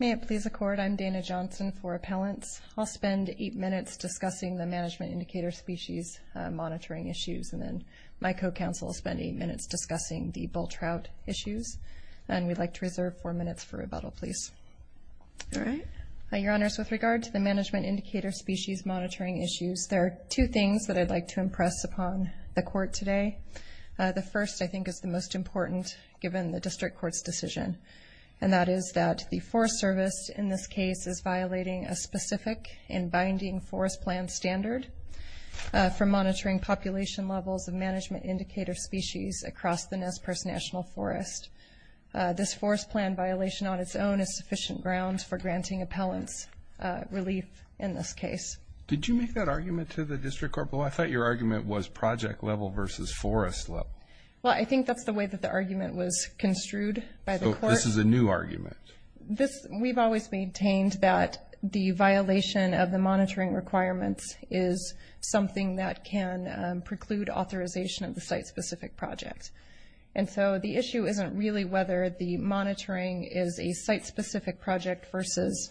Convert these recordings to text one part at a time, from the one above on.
May it please the Court, I'm Dana Johnson for Appellants. I'll spend eight minutes discussing the Management Indicator Species Monitoring Issues, and then my co-counsel will spend eight minutes discussing the Bull Trout issues, and we'd like to reserve four minutes for rebuttal, please. All right. Your Honors, with regard to the Management Indicator Species Monitoring Issues, there are two things that I'd like to impress upon the Court today. The first, I think, is the most important given the District Court's decision, and that is that the Forest Service in this case is violating a specific and binding Forest Plan standard for monitoring population levels of Management Indicator Species across the Nez Perce National Forest. This Forest Plan violation on its own is sufficient ground for granting appellants relief in this case. Did you make that argument to the District Court? I thought your argument was project level versus forest level. Well, I think that's the way that the argument was construed by the Court. So this is a new argument? We've always maintained that the violation of the monitoring requirements is something that can preclude authorization of the site-specific project. And so the issue isn't really whether the monitoring is a site-specific project versus,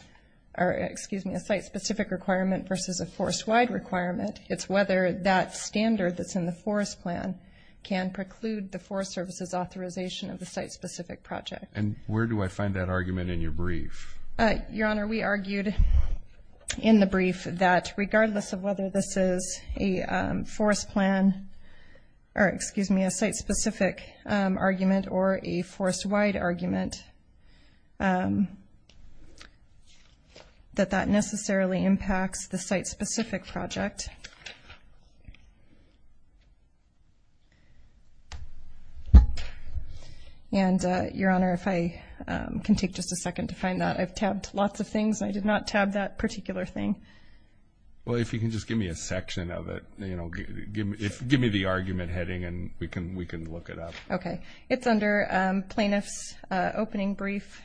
or excuse me, a site-specific requirement versus a forest-wide requirement. It's whether that standard that's in the Forest Plan can preclude the Forest Service's authorization of the site-specific project. And where do I find that argument in your brief? Your Honor, we argued in the brief that regardless of whether this is a Forest Plan, or excuse me, a site-specific argument or a forest-wide argument, that that necessarily impacts the And, Your Honor, if I can take just a second to find that. I've tabbed lots of things, and I did not tab that particular thing. Well, if you can just give me a section of it. Give me the argument heading, and we can look it up. Okay. It's under Plaintiff's Opening Brief,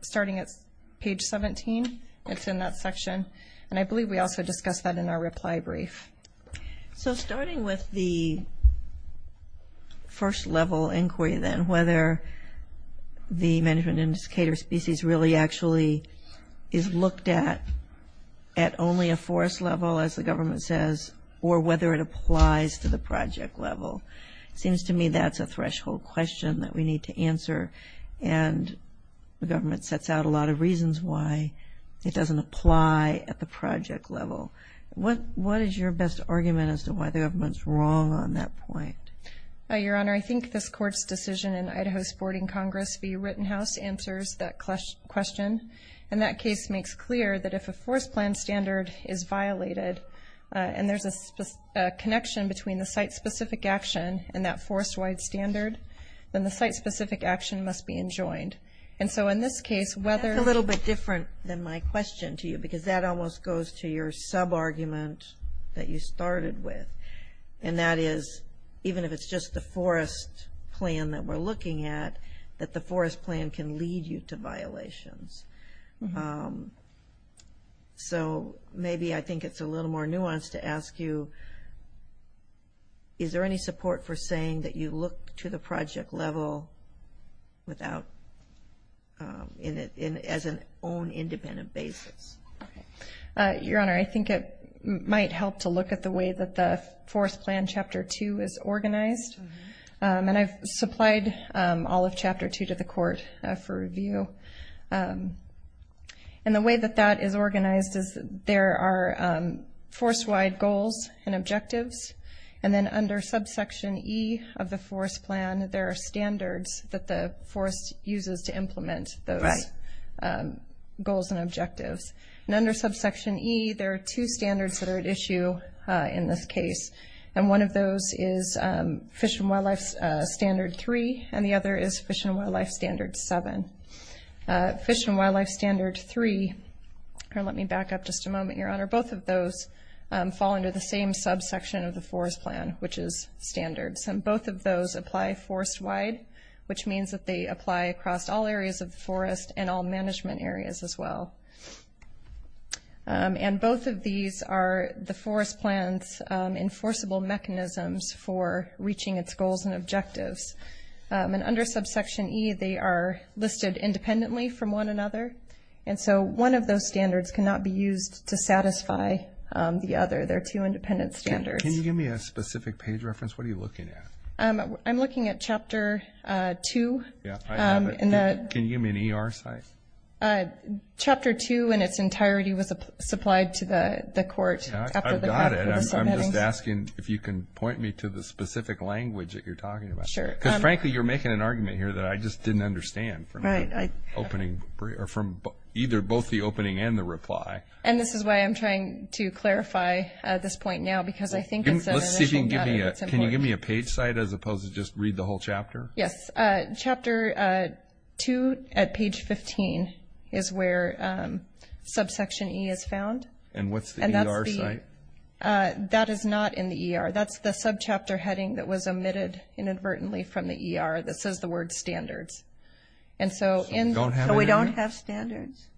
starting at page 17. It's in that section. And I believe we also discussed that in our reply brief. So, starting with the first-level inquiry then, whether the management indicator species really actually is looked at at only a forest level, as the government says, or whether it applies to the project level. It seems to me that's a threshold question that we need to answer, and the government sets out a lot of reasons why it doesn't apply at the best argument as to why the government's wrong on that point. Your Honor, I think this Court's decision in Idaho's Boarding Congress v. Rittenhouse answers that question. And that case makes clear that if a Forest Plan standard is violated, and there's a connection between the site-specific action and that forest-wide standard, then the site-specific action must be enjoined. And so, in this case, whether That's a little bit different than my question to you, because that almost goes to your sub-argument that you started with. And that is, even if it's just the Forest Plan that we're looking at, that the Forest Plan can lead you to violations. So, maybe I think it's a little more nuanced to ask you, is there any support for saying that you look to the project level without as an own, independent basis? Your Honor, I think it might help to look at the way that the Forest Plan, Chapter 2, is organized. And I've supplied all of Chapter 2 to the Court for review. And the way that that is organized is there are forest-wide goals and objectives, and then under subsection E of the Forest Plan, there are standards that the Forest uses to implement those goals and objectives. And under subsection E, there are two standards that are at issue in this case. And one of those is Fish and Wildlife Standard 3, and the other is Fish and Wildlife Standard 7. Fish and Wildlife Standard 3, or let me back up just a moment, Your Honor, both of those fall under the same subsection of the Forest Plan, which is standards. And both of those apply forest-wide, which means that they apply across all areas of the forest and all management areas as well. And both of these are the Forest Plan's enforceable mechanisms for reaching its goals and objectives. And under subsection E, they are listed independently from one another. And so one of those standards cannot be used to satisfy the other. They're two independent standards. Can you give me a specific page reference? What are you looking at? I'm looking at Chapter 2. Yeah, I have it. Can you give me an ER site? Chapter 2 in its entirety was supplied to the Court after the subheadings. I've got it. I'm just asking if you can point me to the specific language that you're talking about. Because frankly, you're making an argument here that I just didn't understand from opening or from either both the opening and the reply. And this is why I'm trying to clarify at this point now, because I think it's an initial matter. Can you give me a page site as opposed to just read the whole chapter? Yes. Chapter 2 at page 15 is where subsection E is found. And what's the ER site? That is not in the ER. That's the subchapter heading that was omitted inadvertently from the ER that says the word standards. So we don't have standards?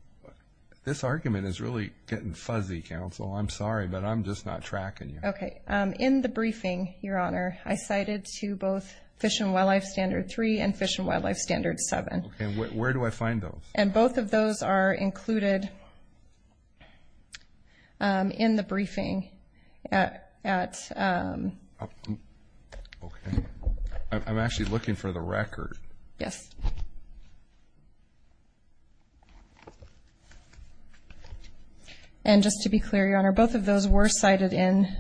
This argument is really getting fuzzy, Counsel. I'm sorry, but I'm just not tracking you. In the briefing, Your Honor, I cited to both Fish and Wildlife Standard 3 and Fish and Wildlife Standard 7. Where do I find those? And both of those are included in the briefing at... Okay. I'm actually looking for the record. Yes. And just to be clear, Your Honor, both of those were cited in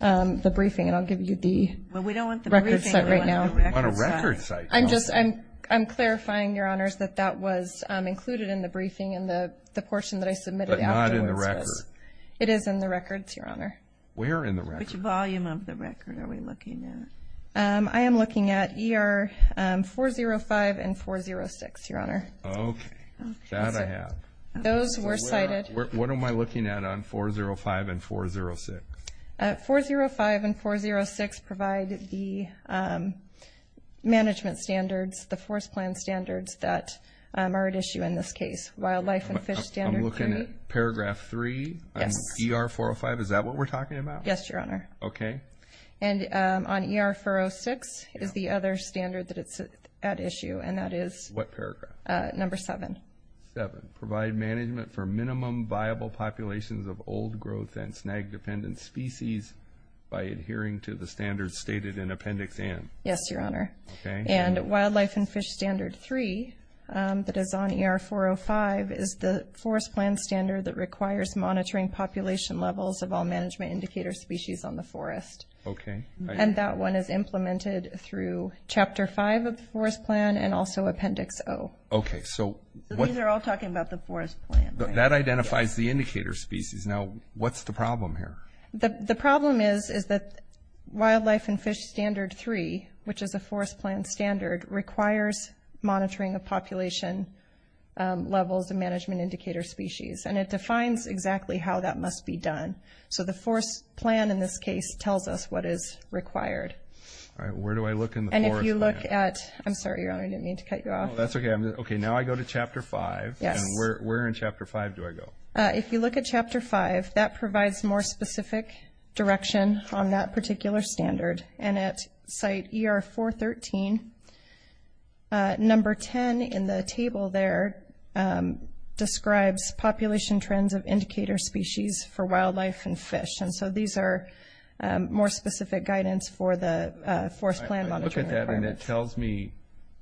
the briefing, and I'll give you the record site right now. Well, we don't want the briefing on a record site. I'm clarifying, Your Honors, that that was included in the briefing in the portion that I submitted afterwards. But not in the record. It is in the records, Your Honor. Where in the record? Which volume of the record are we looking at? I am looking at ER 405 and 406, Your Honor. Okay. That I have. Those were cited. What am I looking at on 405 and 406? 405 and 406 provide the management standards, the forest plan standards that are at issue in this case. Wildlife and Fish Standard 3. I'm looking at Paragraph 3 on ER 405. Is that what we're talking about? Yes, Your Honor. Okay. And on ER 406 is the other standard that is at issue, and that is... What paragraph? Number 7. 7. Provide management for minimum viable populations of old growth and snag-dependent species by adhering to the standards stated in Appendix N. Yes, Your Honor. Okay. And Wildlife and Fish Standard 3 that is on ER 405 is the forest plan standard that requires monitoring population levels of all management indicator species on the forest. Okay. And that one is implemented through Chapter 5 of the forest plan and also Appendix O. Okay. So... These are all talking about the forest plan. That identifies the indicator species. Now, what's the problem here? The problem is that Wildlife and Fish Standard 3, which is a forest plan standard, requires monitoring of population levels of management indicator species. And it defines exactly how that must be done. So the forest plan in this case tells us what is required. All right. Where do I look in the forest plan? And if you look at... I'm sorry, Your Honor. I didn't mean to cut you off. That's okay. Now I go to Chapter 5. Yes. And where in Chapter 5 do I go? If you look at Chapter 5, that provides more specific direction on that particular standard. And at site ER 413, number 10 in the table there describes population trends of indicator species for wildlife and fish. And so these are more specific guidance for the forest plan monitoring requirements. I look at that and it tells me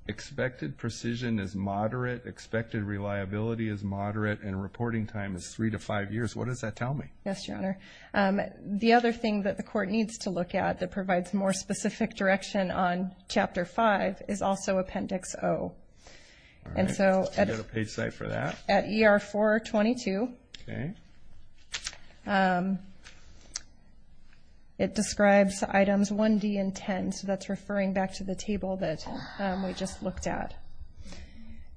expected precision is moderate, expected reliability is moderate, and reporting time is 3 to 5 years. What does that tell me? Yes, Your Honor. The other thing that the court needs to look at that provides more specific direction on Chapter 5 is also Appendix O. All right. And so... Is there a page site for that? At ER 422... Okay. It describes items 1D and 10. So that's referring back to the table that we just looked at.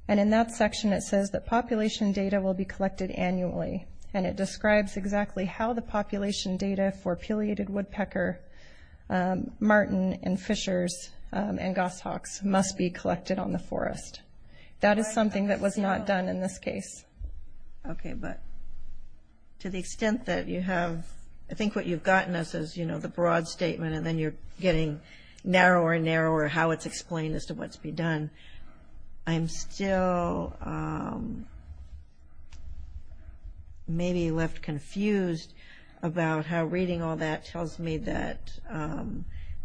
And in that section, it says that population data will be collected annually. And it describes exactly how the population data for Pileated Woodpecker, Martin, and Fishers, and Goshawks must be collected on the forest. That is something that was not done in this case. Okay. But to the extent that you have... I think what you've gotten us is, you know, the broad statement and then you're getting narrower and narrower how it's explained as to what's been done. And I'm still maybe left confused about how reading all that tells me that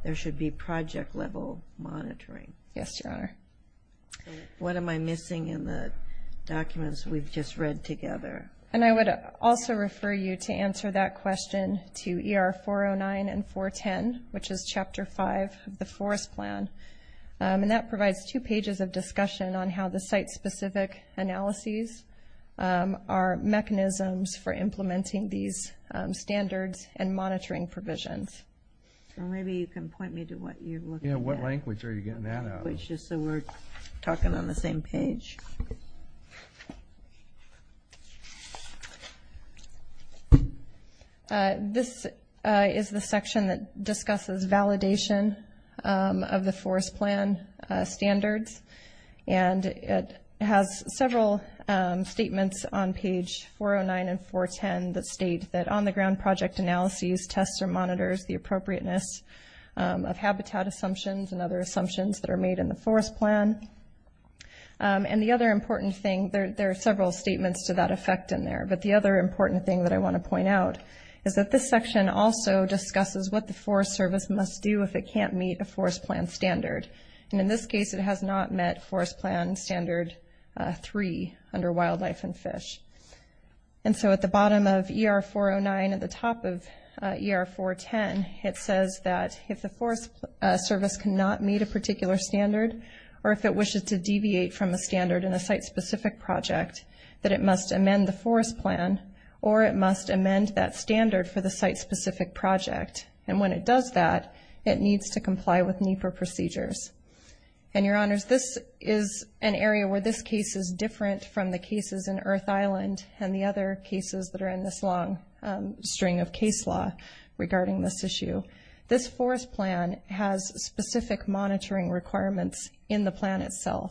there should be project-level monitoring. Yes, Your Honor. What am I missing in the documents we've just read together? And I would also refer you to answer that question to ER 409 and 410, which is Chapter 5 of the Forest Plan. And that provides two pages of discussion on how the site-specific analyses are mechanisms for implementing these standards and monitoring provisions. And maybe you can point me to what you're looking at. Yeah, what language are you getting that out of? It's just that we're talking on the same page. This is the section that discusses validation of the Forest Plan standards. And it has several statements on page 409 and 410 that state that on-the-ground project analyses, tests, or monitors the appropriateness of habitat assumptions and other assumptions that are made in the Forest Plan. There are several statements to that effect in there. But the other important thing that I want to point out is that this section also discusses what the Forest Service must do if it can't meet a Forest Plan standard. And in this case, it has not met Forest Plan Standard 3 under wildlife and fish. And so at the bottom of ER 409, at the top of ER 410, it says that if the Forest Service cannot meet a particular standard or if it wishes to deviate from a standard in a site-specific project that it must amend the Forest Plan or it must amend that standard for the site-specific project. And when it does that, it needs to comply with NEPA procedures. And, Your Honors, this is an area where this case is different from the cases in Earth Island and the other cases that are in this long string of case law regarding this issue. This Forest Plan has specific monitoring requirements in the plan itself.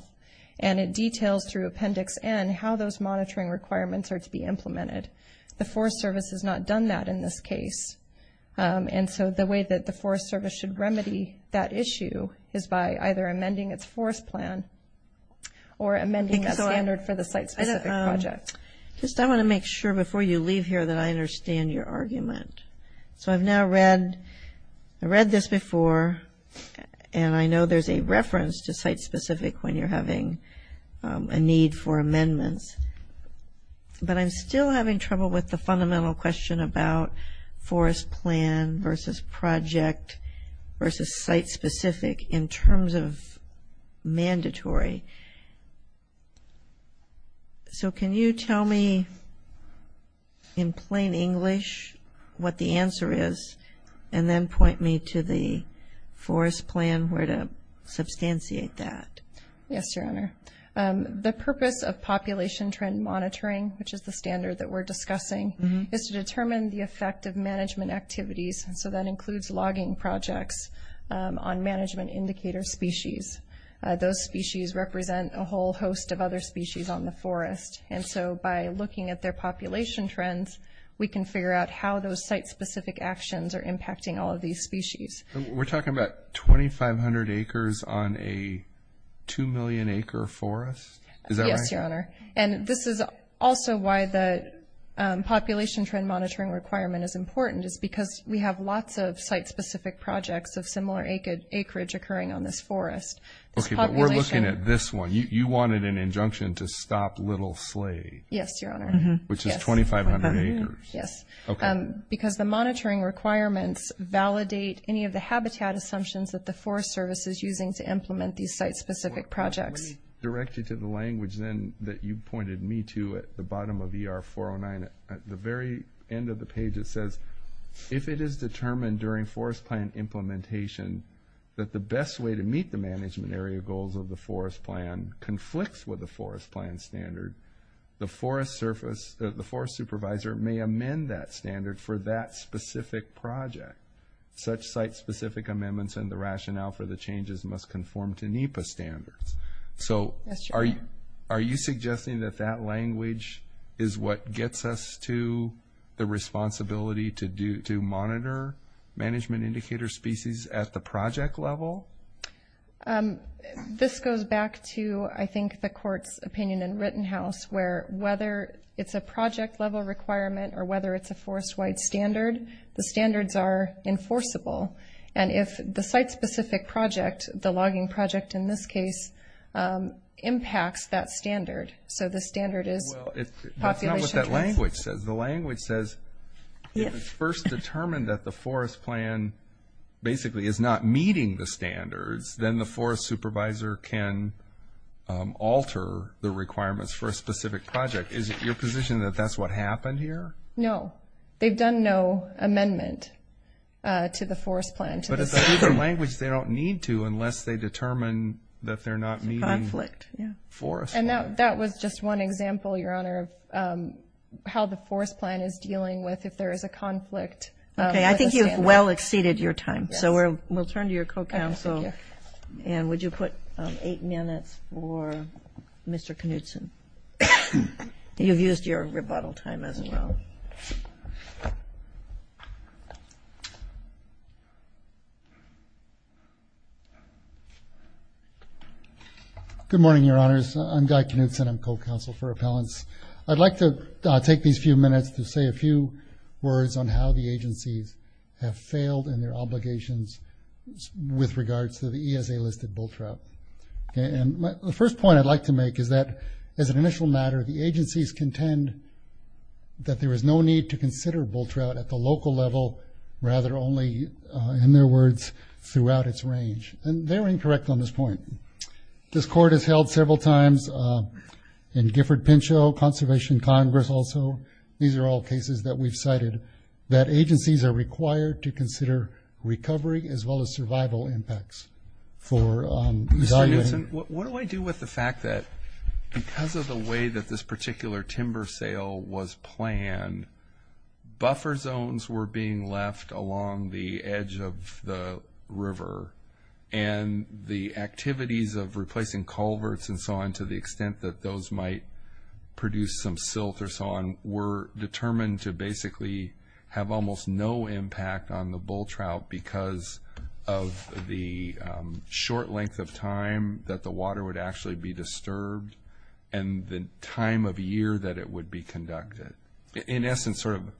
And it details through Appendix N how those monitoring requirements are to be implemented. The Forest Service has not done that in this case. And so the way that the Forest Service should remedy that issue is by either amending its Forest Plan or amending that standard for the site-specific project. Just I want to make sure before you leave here that I understand your argument. So I've now read, I read this before and I know there's a reference to site-specific when you're having a need for amendments. But I'm still having trouble with the fundamental question about Forest Plan versus project versus site-specific in terms of mandatory. So can you tell me in plain English what the answer is and then point me to the Forest Plan where to substantiate that? Yes, Your Honor. The purpose of population trend monitoring, which is the standard that we're discussing, is to determine the effect of management activities. So that includes logging projects on management indicator species. Those species represent a whole host of other species on the forest. And so by looking at their population trends, we can figure out how those site-specific actions are impacting all of these species. We're talking about 2,500 acres on a 2 million acre forest? Yes, Your Honor. And this is also why the population trend monitoring requirement is important is because we have lots of site-specific projects of similar acreage occurring on this forest. Okay, but we're looking at this one. You wanted an injunction to stop Little Slade. Yes, Your Honor. Which is 2,500 acres. Yes, because the monitoring requirements validate any of the habitat assumptions that the Forest Service is using to implement these site-specific projects. Well, let me direct you to the language then that you pointed me to at the bottom of ER 409. At the very end of the page it says, if it is determined during forest plan implementation that the best way to meet the management area goals of the forest plan conflicts with the forest plan standard, the forest supervisor may amend that standard for that specific project. Such site-specific amendments and the rationale for the changes must conform to NEPA standards. So are you suggesting that that language is what gets us to the responsibility to monitor management indicator species at the project level? This goes back to, I think, the Court's opinion in Rittenhouse where whether it's a project-level requirement or whether it's a forest-wide standard, the standards are enforceable. And if the site-specific project, the logging project in this case, impacts that standard, so the standard is... That's not what that language says. The language says if it's first determined that the forest plan basically is not meeting the standards, then the forest supervisor can alter the requirements for a specific project. Is it your position that that's what happened here? No. They've done no amendment to the forest plan. But it's a language they don't need to unless they determine that they're not meeting forest plan. And that was just one example, Your Honor, of how the forest plan is dealing with if there is a conflict with a standard. Okay, I think you've well exceeded your time. So we'll turn to your co-counsel. And would you put eight minutes for Mr. Knutson? You've used your rebuttal time as well. Thank you. Good morning, Your Honors. I'm Guy Knutson. I'm co-counsel for appellants. I'd like to take these few minutes to say a few words on how the agencies have failed in their obligations with regards to the ESA-listed bull trout. And the first point I'd like to make is that as an initial matter, the agencies contend that there is no need to consider bull trout at the local level, rather only, in their words, throughout its range. And they're incorrect on this point. This Court has held several times in Gifford-Pinchot, Conservation Congress also, these are all cases that we've cited, that agencies are required to consider recovery as well as survival impacts for... Mr. Knutson, what do I do with the fact that because of the way that this particular timber sale was planned, buffer zones were being left along the edge of the river. And the activities of replacing culverts and so on to the extent that those might produce some silt or so on were determined to basically have almost no impact on the bull trout because of the short length of time that the water would actually be disturbed and the time of year that it would be conducted. In essence, sort of,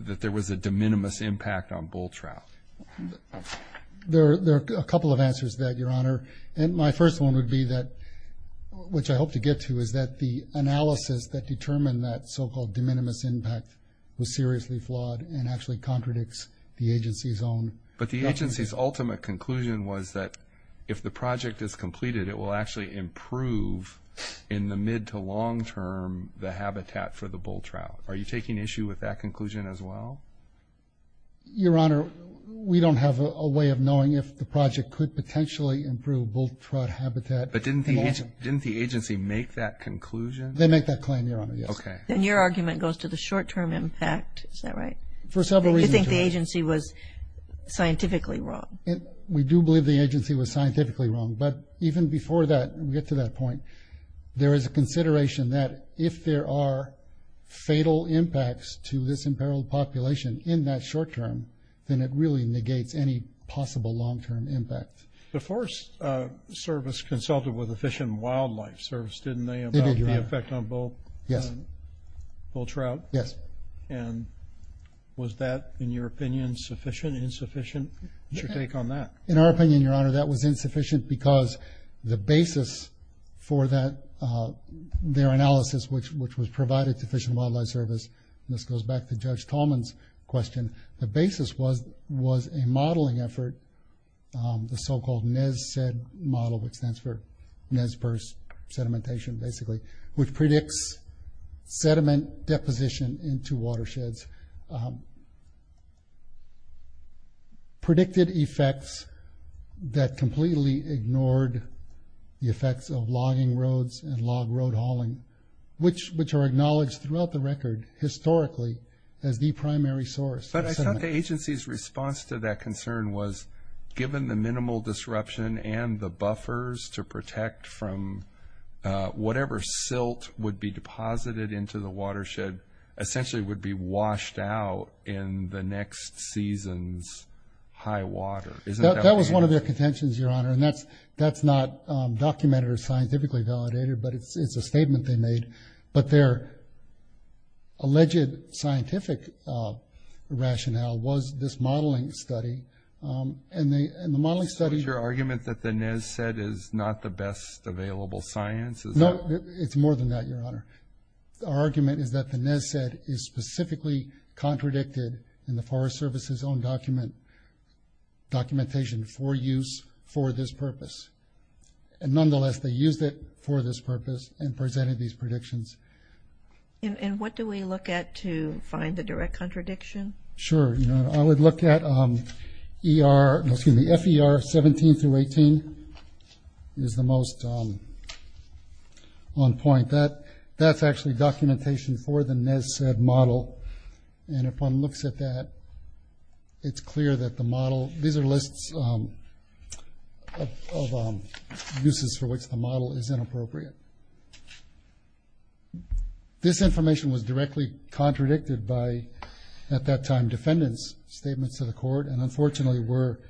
that there was a de minimis impact on bull trout. There are a couple of answers to that, Your Honor. My first one would be that, which I hope to get to, is that the analysis that determined that so-called de minimis impact was seriously flawed and actually contradicts the agency's own... to potentially improve in the mid to long term the habitat for the bull trout. Are you taking issue with that conclusion as well? Your Honor, we don't have a way of knowing if the project could potentially improve bull trout habitat. But didn't the agency make that conclusion? They make that claim, Your Honor, yes. Then your argument goes to the short term impact, is that right? For several reasons. Do you think the agency was scientifically wrong? We do believe the agency was scientifically wrong. But even before that, we get to that point, there is a consideration that if there are fatal impacts to this imperiled population in that short term, then it really negates any possible long term impact. The Forest Service consulted with the Fish and Wildlife Service, didn't they, about the effect on bull trout? Yes. Was that, in your opinion, sufficient, insufficient? What's your take on that? In our opinion, Your Honor, that was insufficient because the basis for their analysis, which was provided to the Fish and Wildlife Service, and this goes back to Judge Tallman's question, the basis was a modeling effort, the so-called NES-SED model, which stands for Sedimentation, basically, which predicts sediment deposition into watersheds, predicted effects that completely ignored the effects of logging roads and log road hauling, which are acknowledged throughout the record historically as the primary source of sediment. But I thought the agency's response to that concern was given the minimal disruption and the buffers to protect from whatever silt would be deposited into the watershed essentially would be washed out in the next season's high water. That was one of their contentions, Your Honor, and that's not documented or scientifically validated, but it's a statement they made. But their alleged scientific rationale was this modeling study, and the modeling study... So it's your argument that the NES-SED is not the best available science? No, it's more than that, Your Honor. Our argument is that the NES-SED is specifically contradicted in the Forest Service's own documentation for use for this purpose. And nonetheless, they used it for this purpose and presented these predictions. And what do we look at to find the direct contradiction? Sure. I would look at FER 17-18 is the most on point. That's actually documentation for the NES-SED model. And if one looks at that, it's clear that the model... These are lists of uses for which the model is inappropriate. This information was directly contradicted by at that time defendants' statements to the court and unfortunately were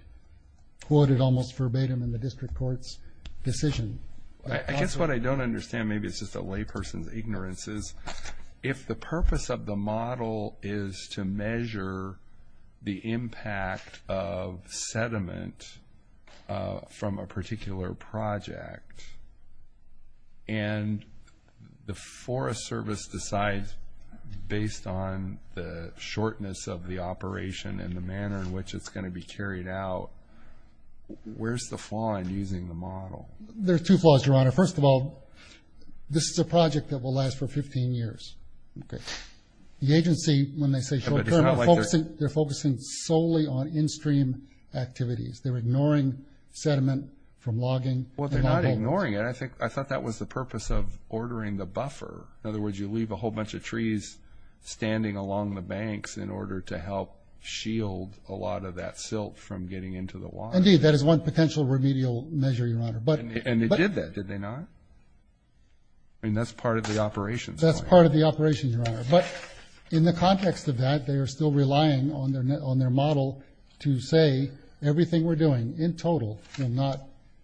quoted almost verbatim in the district court's decision. I guess what I don't understand, maybe it's just a lay person's ignorance, is if the purpose of the model is to measure the impact of sediment from a particular project and the Forest Service decides based on the shortness of the operation and the manner in which it's going to be carried out, where's the flaw in using the model? There are two flaws, Your Honor. First of all, this is a project that will last for 15 years. The agency, when they say short-term, they're focusing solely on in-stream activities. They're ignoring sediment from logging. Well, they're not ignoring it. I thought that was the purpose of ordering the buffer. In other words, you leave a whole bunch of trees standing along the banks in order to help shield a lot of that silt from getting into the water. Indeed, that is one potential remedial measure, Your Honor. And they did that, did they not? That's part of the operations. That's part of the operations, Your Honor. But in the context of that, they are still relying on their model to say everything we're doing in total will not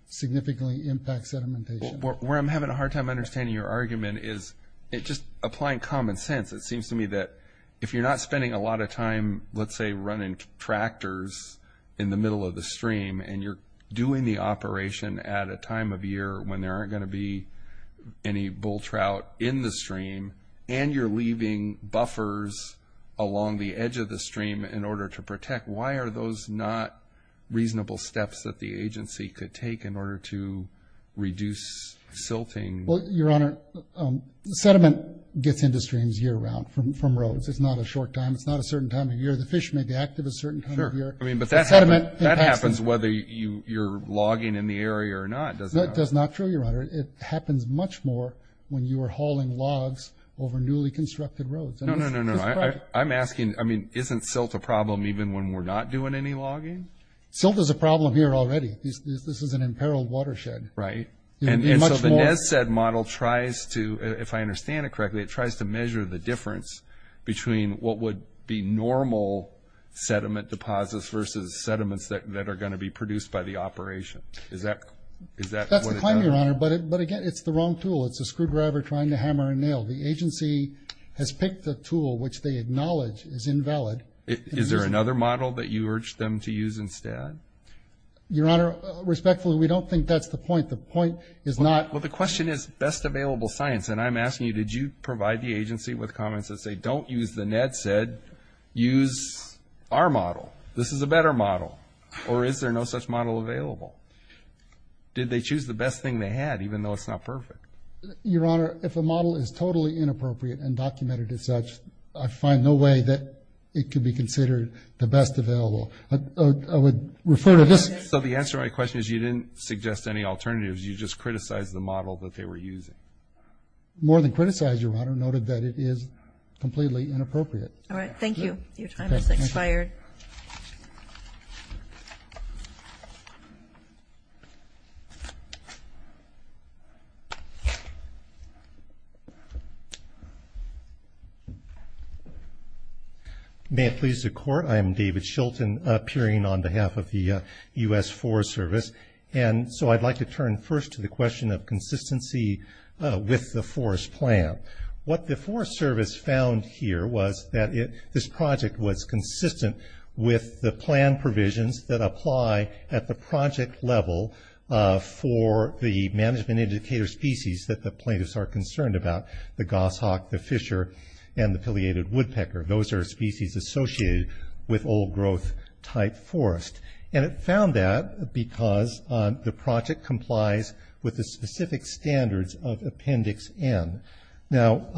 significantly impact sedimentation. Where I'm having a hard time understanding your argument is just applying common sense. It seems to me that if you're not spending a lot of time, let's say, running tractors in the middle of the stream and you're doing the operation at a time of year when there aren't going to be any bull trout in the stream, and you're leaving buffers along the edge of the stream in order to protect, why are those not reasonable steps that the agency could take in order to reduce silting? Well, Your Honor, sediment gets into streams year-round from roads. It's not a short time. It's not a certain time of year. The fish may be active a certain time of year. That happens whether you're logging in the area or not. That's not true, Your Honor. It happens much more when you are hauling logs over newly constructed roads. No, no, no. I'm asking, isn't silt a problem even when we're not doing any logging? Silt is a problem here already. This is an imperiled watershed. Right. And so the NEDSED model tries to, if I understand it correctly, it tries to measure the difference between what would be normal sediment deposits versus sediments that are going to be produced by the operation. That's the claim, Your Honor, but again, it's the wrong tool. It's a screwdriver trying to hammer and nail. The agency has picked a tool which they acknowledge is invalid. Is there another model that you urge them to use instead? Your Honor, respectfully, we don't think that's the point. The point is not... Well, the question is best available science, and I'm asking you, did you provide the agency with comments that say, don't use the NEDSED, use our model. This is a better model. Or is there no such model available? Did they choose the best thing they had, even though it's not perfect? Your Honor, if a model is totally inappropriate and documented as such, I find no way that it could be considered the best available. I would refer to this... So the answer to my question is you didn't suggest any alternatives. You just criticized the model that they were using. More than criticize, Your Honor. Noted that it is completely inappropriate. All right. Thank you. Your time has expired. May it please the Court, I am David Shilton, appearing on behalf of the U.S. Forest Service, and so I'd like to turn first to the question of consistency with the forest plan. What the Forest Service found here was that this project was consistent with the plan provisions that apply at the project level for the management indicator species that the plaintiffs are concerned about, the goshawk, the fisher, and the pileated woodpecker. Those are species associated with old growth type forest. And it found that because the project complies with the specific standards of Appendix N. Now,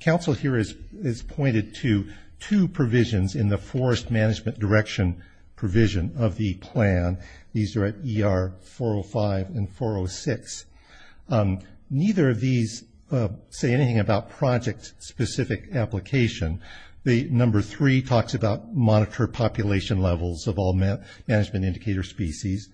counsel here has pointed to two provisions in the forest management direction provision of the plan. These are at ER 405 and 406. Neither of these say anything about project specific application. The number three talks about monitor population levels of all management indicator species.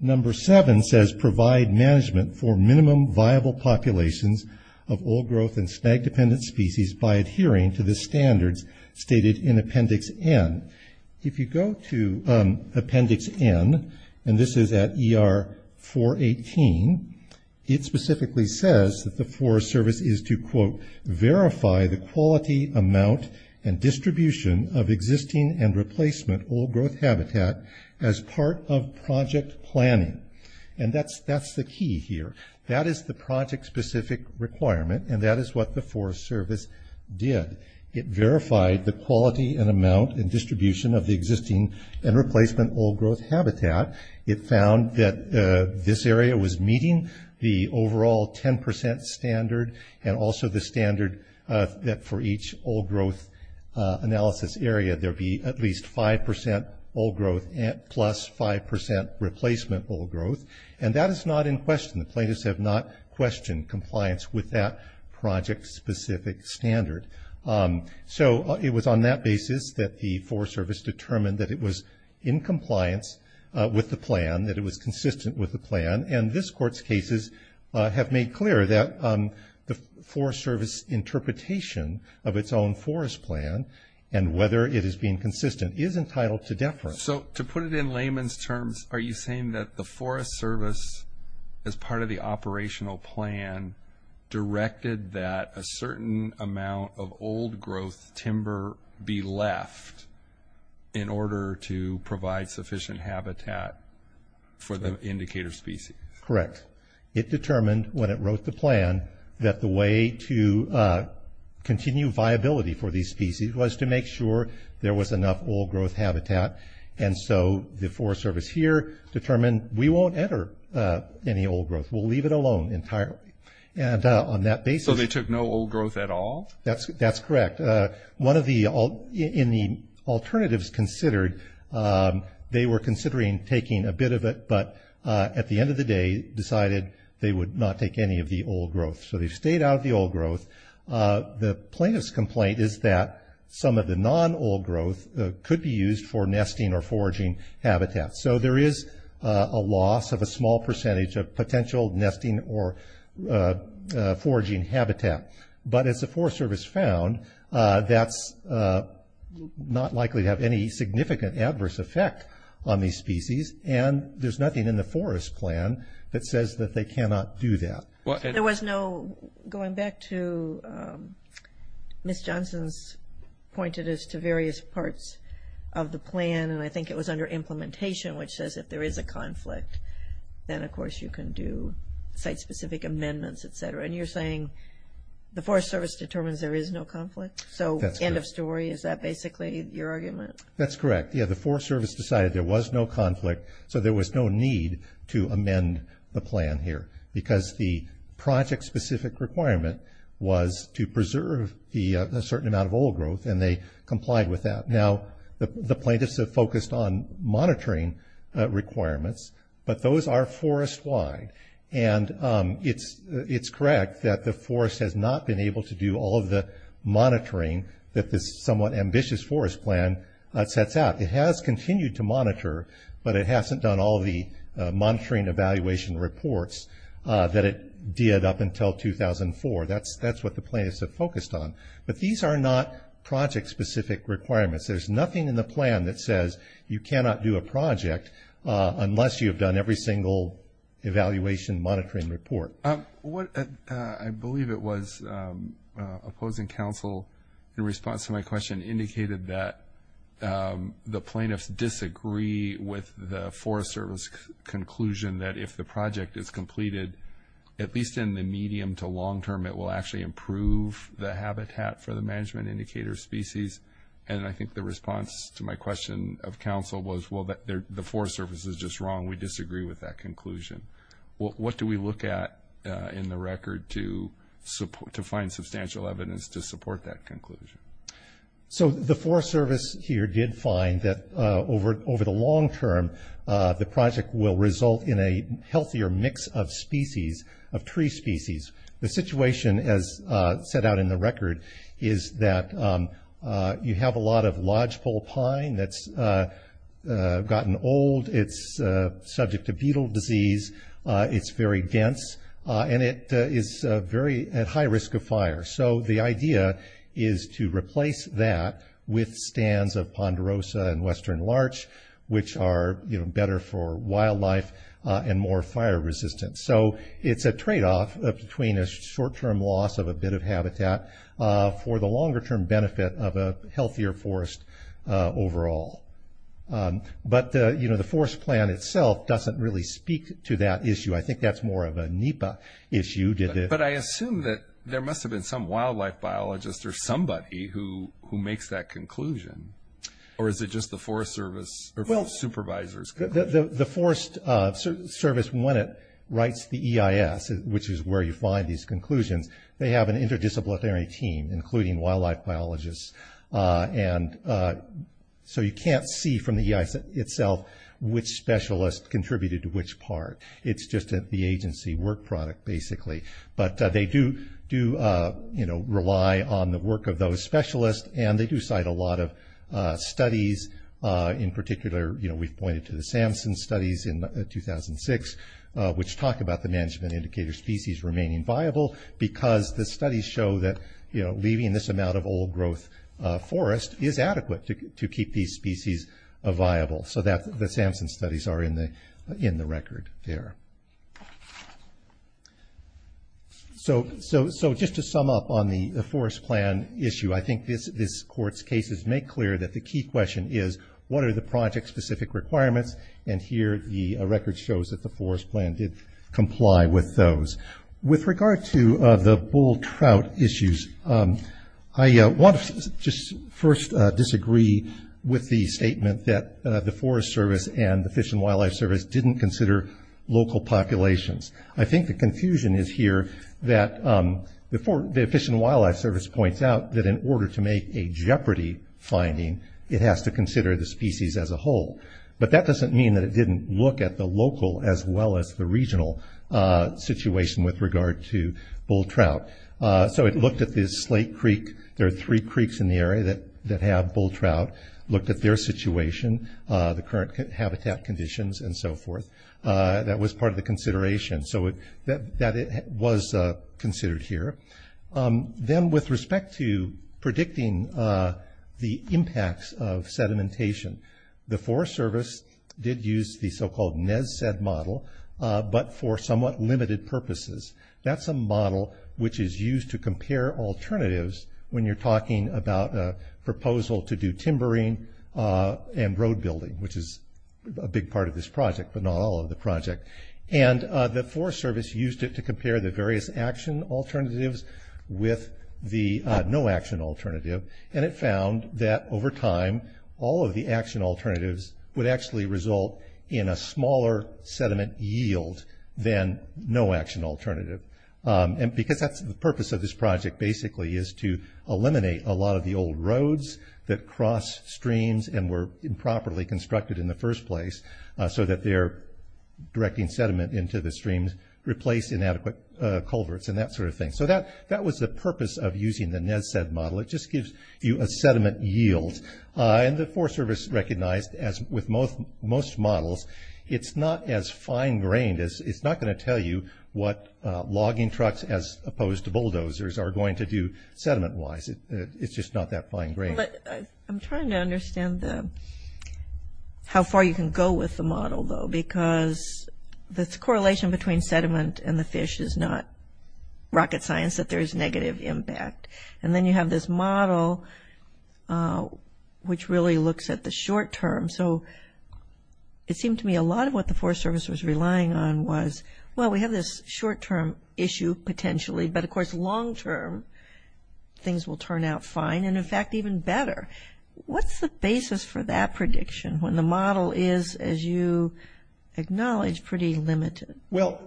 Number seven says provide management for minimum viable populations of old growth and snag dependent species by adhering to the standards stated in Appendix N. If you go to Appendix N, and this is at ER 418, it specifically says that the quality, amount, and distribution of existing and replacement old growth habitat as part of project planning. And that's the key here. That is the project specific requirement, and that is what the Forest Service did. It verified the quality and amount and distribution of the existing and replacement old growth habitat. It found that this area was meeting the overall 10% standard and also the standard that for each old growth analysis area there be at least 5% old growth plus 5% replacement old growth. And that is not in question. The plaintiffs have not questioned compliance with that project specific standard. So it was on that basis that the Forest Service determined that it was in compliance with the plan, that it was consistent with the plan. And this the Forest Service interpretation of its own forest plan and whether it is being consistent is entitled to deference. So to put it in layman's terms, are you saying that the Forest Service as part of the operational plan directed that a certain amount of old growth timber be left in order to provide sufficient habitat for the indicator species? Correct. It determined when it wrote the plan that the way to continue viability for these species was to make sure there was enough old growth habitat. And so the Forest Service here determined we won't enter any old growth. We'll leave it alone entirely. So they took no old growth at all? That's correct. In the alternatives considered, they were considering taking a bit of it, but at the end of the day decided they would not take any of the old growth. So they stayed out of the old growth. The plaintiff's complaint is that some of the non-old growth could be used for nesting or foraging habitat. So there is a loss of a small percentage of potential nesting or foraging habitat. But as the Forest Service found, that's not likely to have any significant adverse effect on these species, and there's nothing in the Forest Plan that says that they cannot do that. There was no... going back to... Ms. Johnson's pointed us to various parts of the plan, and I think it was under implementation, which says if there is a conflict, then of course you can do site-specific amendments, etc. And you're saying the Forest Service determines there is no conflict? So, end of story, is that basically your argument? That's correct. Yeah, the Forest Service decided there was no conflict, so there was no need to amend the plan here, because the project-specific requirement was to preserve a certain amount of old growth, and they complied with that. Now, the plaintiffs have focused on monitoring requirements, but those are forest-wide. And it's correct that the monitoring that this somewhat ambitious forest plan sets out. It has continued to monitor, but it hasn't done all the monitoring evaluation reports that it did up until 2004. That's what the plaintiffs have focused on. But these are not project-specific requirements. There's nothing in the plan that says you cannot do a project unless you have done every single evaluation monitoring report. I believe it was opposing counsel in response to my question indicated that the plaintiffs disagree with the Forest Service conclusion that if the project is completed, at least in the medium to long term, it will actually improve the habitat for the management indicator species. And I think the response to my question of counsel was, well, the Forest Service is just wrong. We disagree with that conclusion. What do we look at in the record to find substantial evidence to support that conclusion? So the Forest Service here did find that over the long term, the project will result in a healthier mix of species, of tree species. The situation, as set out in the record, is that you have a lot of lodgepole pine that's gotten old. It's subject to beetle disease. It's very dense. And it is very at high risk of fire. So the idea is to replace that with stands of ponderosa and western larch, which are better for wildlife and more fire resistant. So it's a tradeoff between a short term loss of a bit of habitat for the longer term benefit of a But, you know, the Forest Plan itself doesn't really speak to that issue. I think that's more of a NEPA issue. But I assume that there must have been some wildlife biologist or somebody who makes that conclusion. Or is it just the Forest Service supervisor's conclusion? The Forest Service when it writes the EIS, which is where you find these conclusions, they have an interdisciplinary team, including wildlife biologists. So you can't see from the EIS itself which specialist contributed to which part. It's just the agency work product basically. But they do rely on the work of those specialists and they do cite a lot of studies, in particular we've pointed to the Samson studies in 2006 which talk about the management indicator species remaining viable because the studies show that leaving this amount of old growth forest is adequate to keep these species viable. So the Samson studies are in the record there. So just to sum up on the Forest Plan issue, I think this court's cases make clear that the key question is, what are the project specific requirements? And here the record shows that the Forest Plan did comply with those. With regard to the bull trout issues, I want to just first disagree with the statement that the Forest Service and the Fish and Wildlife Service didn't consider local populations. I think the confusion is here that the Fish and Wildlife Service points out that in order to make a jeopardy finding, it has to consider the species as a whole. But that doesn't mean that it didn't look at the local as well as the regional situation with regard to bull trout. So it looked at the Slate Creek. There are three creeks in the area that have bull trout. Looked at their situation, the current habitat conditions and so forth. That was part of the consideration. So that was considered here. Then with respect to predicting the impacts of sedimentation, the but for somewhat limited purposes. That's a model which is used to compare alternatives when you're talking about a proposal to do timbering and road building, which is a big part of this project, but not all of the project. And the Forest Service used it to compare the various action alternatives with the no action alternative. And it found that over time, all of the action alternatives would actually result in a smaller sediment yield than no action alternative. Because that's the purpose of this project basically is to eliminate a lot of the old roads that cross streams and were improperly constructed in the first place so that they're directing sediment into the streams, replace inadequate culverts and that sort of thing. So that was the purpose of using the model. It just gives you a sediment yield. And the Forest Service recognized as with most most models, it's not as fine grained as it's not going to tell you what logging trucks as opposed to bulldozers are going to do sediment wise. It's just not that fine grained. I'm trying to understand the how far you can go with the model though, because the correlation between sediment and the fish is not rocket science that there is negative impact. And then you have this model which really looks at the short term. So it seemed to me a lot of what the Forest Service was relying on was, well, we have this short term issue potentially, but of course long term things will turn out fine and in fact even better. What's the basis for that prediction when the model is, as you acknowledge, pretty limited? Well,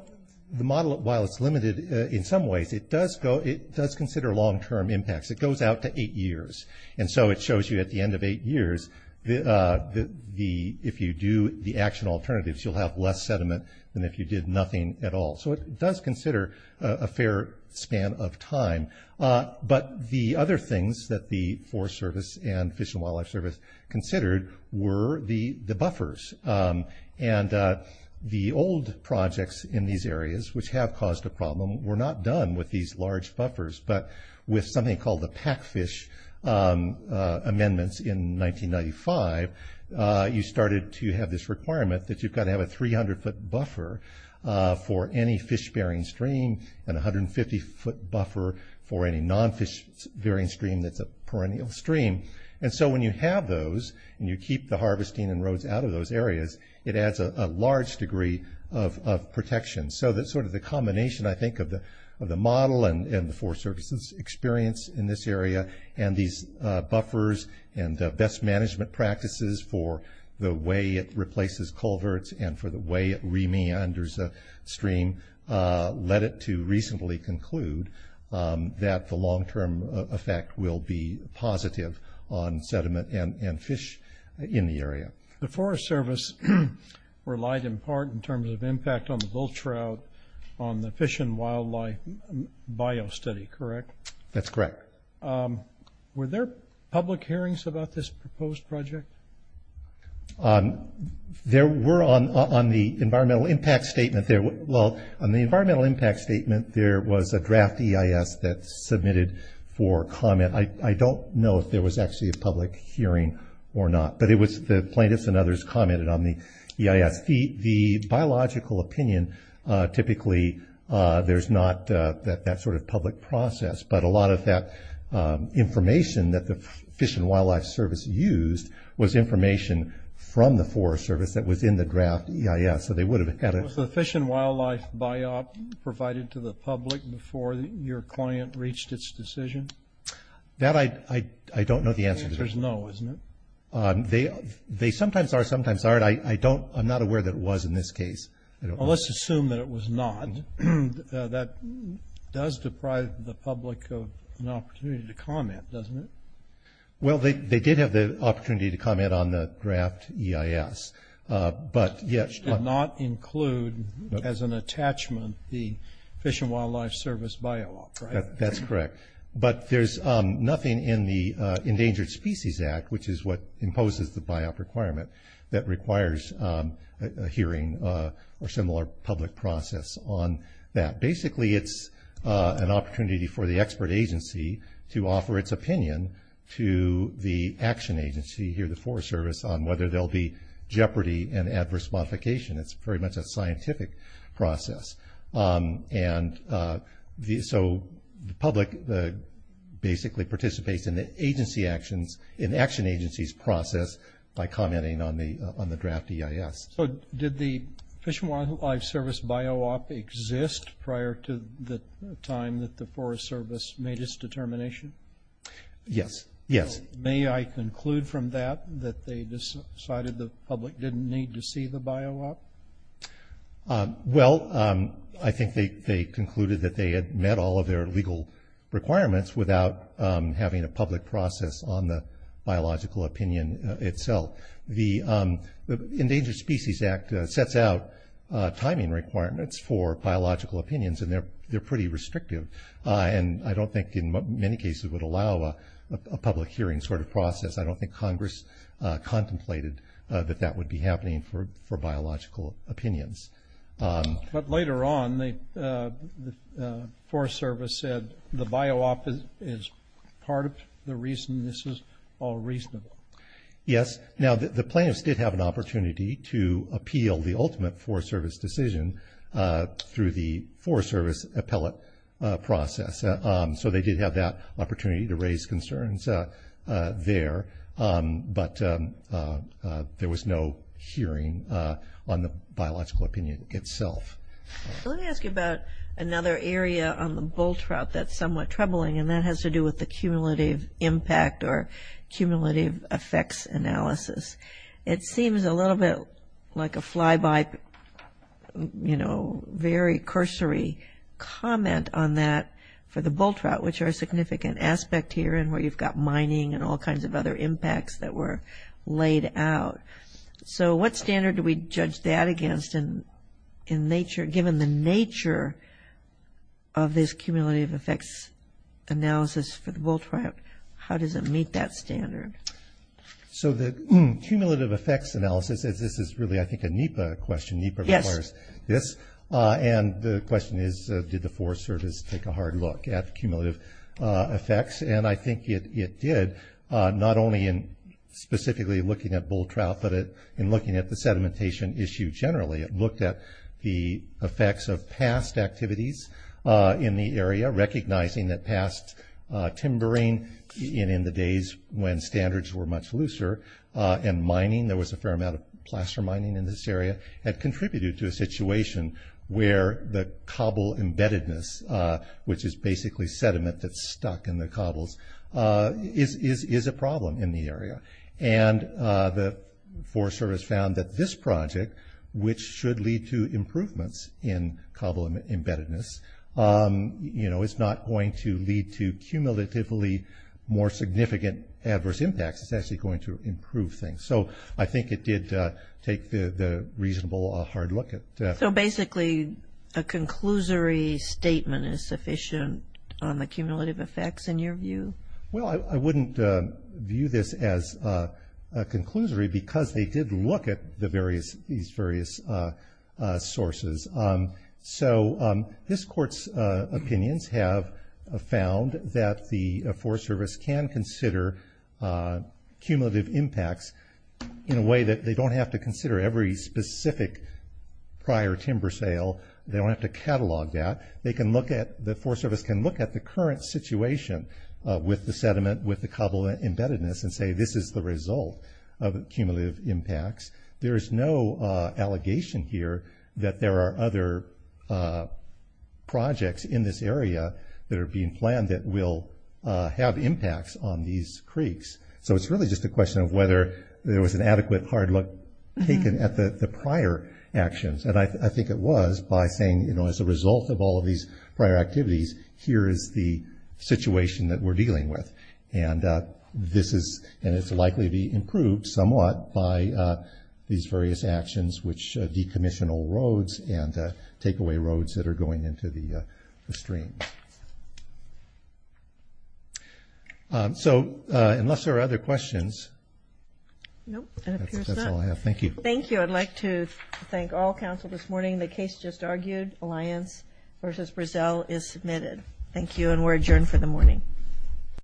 the model, while it's limited in some ways, it does consider long term impacts. It goes out to eight years. And so it shows you at the end of eight years if you do the action alternatives, you'll have less sediment than if you did nothing at all. So it does consider a fair span of time. But the other things that the Forest Service and Fish and Wildlife Service considered were the buffers. And the old projects in these areas, which have caused a problem, were not done with these large buffers, but with something called the Pack Fish amendments in 1995, you started to have this requirement that you've got to have a 300 foot buffer for any fish bearing stream and 150 foot buffer for any non-fish bearing stream that's a perennial stream. And so when you have those and you keep the harvesting and roads out of those areas, it adds a large degree of protection. So that's sort of the combination, I think, of the model and the Forest Service's experience in this area and these buffers and best management practices for the way it replaces culverts and for the way it re-meanders a stream led it to recently conclude that the long term effect will be positive on sediment and fish in the area. The Forest Service relied in part in terms of impact on the bull trout, on the fish and wildlife bio study, correct? That's correct. Were there public hearings about this proposed project? There were on the environmental impact statement there was a draft EIS that submitted for hearing or not, but it was the plaintiffs and others commented on the EIS. The biological opinion typically there's not that sort of public process, but a lot of that information that the Fish and Wildlife Service used was information from the Forest Service that was in the draft EIS, so they would have had a... Was the fish and wildlife biop provided to the public before your client reached its decision? That I don't know the answer to. The answer is no, isn't it? They sometimes are, sometimes aren't. I'm not aware that it was in this case. Well, let's assume that it was not. That does deprive the public of an opportunity to comment, doesn't it? Well, they did have the opportunity to comment on the draft EIS. Which did not include as an attachment the Fish and Wildlife Service biop, right? That's correct. But there's nothing in the Endangered Species Act which is what imposes the biop requirement that requires a hearing or similar public process on that. Basically it's an opportunity for the expert agency to offer its opinion to the action agency here, the Forest Service, on whether there'll be jeopardy and adverse modification. It's very much a scientific process. So the public basically participates in the action agency's process by commenting on the draft EIS. So did the Fish and Wildlife Service biop exist prior to the time that the Forest Service made its determination? Yes, yes. May I conclude from that that they decided the public didn't need to see the biop? Well, I think they concluded that they had met all of their legal requirements without having a public process on the biological opinion itself. The Endangered Species Act sets out timing requirements for biological opinions and they're pretty restrictive. And I don't think in many cases would allow a public hearing sort of process. I don't think Congress contemplated that that would be happening for biological opinions. But later on the Forest Service said the biop is part of the reason this is all reasonable. Yes. Now the plaintiffs did have an opportunity to appeal the ultimate Forest Service decision through the Forest Service appellate process. So they did have that opportunity to raise concerns there. But there was no hearing on the biological opinion itself. Let me ask you about another area on the bull trout that's somewhat troubling and that has to do with the cumulative impact or cumulative effects analysis. It seems a little bit like a fly by, you know, very cursory comment on that for the mining and all kinds of other impacts that were laid out. So what standard do we judge that against given the nature of this cumulative effects analysis for the bull trout? How does it meet that standard? So the cumulative effects analysis, this is really I think a NEPA question. NEPA requires this and the question is did the Forest Service take a hard look at it? It did, not only in specifically looking at bull trout, but in looking at the sedimentation issue generally. It looked at the effects of past activities in the area recognizing that past timbering in the days when standards were much looser and mining, there was a fair amount of plaster mining in this area, had contributed to a situation where the cobble embeddedness which is basically sediment that's stuck in the cobbles is a problem in the area and the Forest Service found that this project, which should lead to improvements in cobble embeddedness is not going to lead to cumulatively more significant adverse impacts. It's actually going to improve things. So I think it did take the reasonable hard look at it. So basically a conclusory statement is sufficient on the cumulative effects in your view? Well I wouldn't view this as a conclusory because they did look at these various sources. So this court's opinions have found that the Forest Service can consider cumulative impacts in a way that they don't have to consider every specific prior timber sale. They don't have to catalog that. The Forest Service can look at the current situation with the sediment, with the cobble embeddedness and say this is the result of cumulative impacts. There is no allegation here that there are other projects in this area that are being planned that will have impacts on these creeks. So it's really just a question of whether there was an adequate hard look taken at the prior actions. And I think it was by saying as a result of all of these prior activities, here is the situation that we're dealing with. And it's likely to be improved somewhat by these various actions which decommissional roads and take away roads that are going into the stream. So unless there are other questions... Nope, it appears not. Thank you. Thank you. I'd like to thank all counsel this morning. The case just argued, Alliance v. Brazil is submitted. Thank you and we're adjourned for the morning.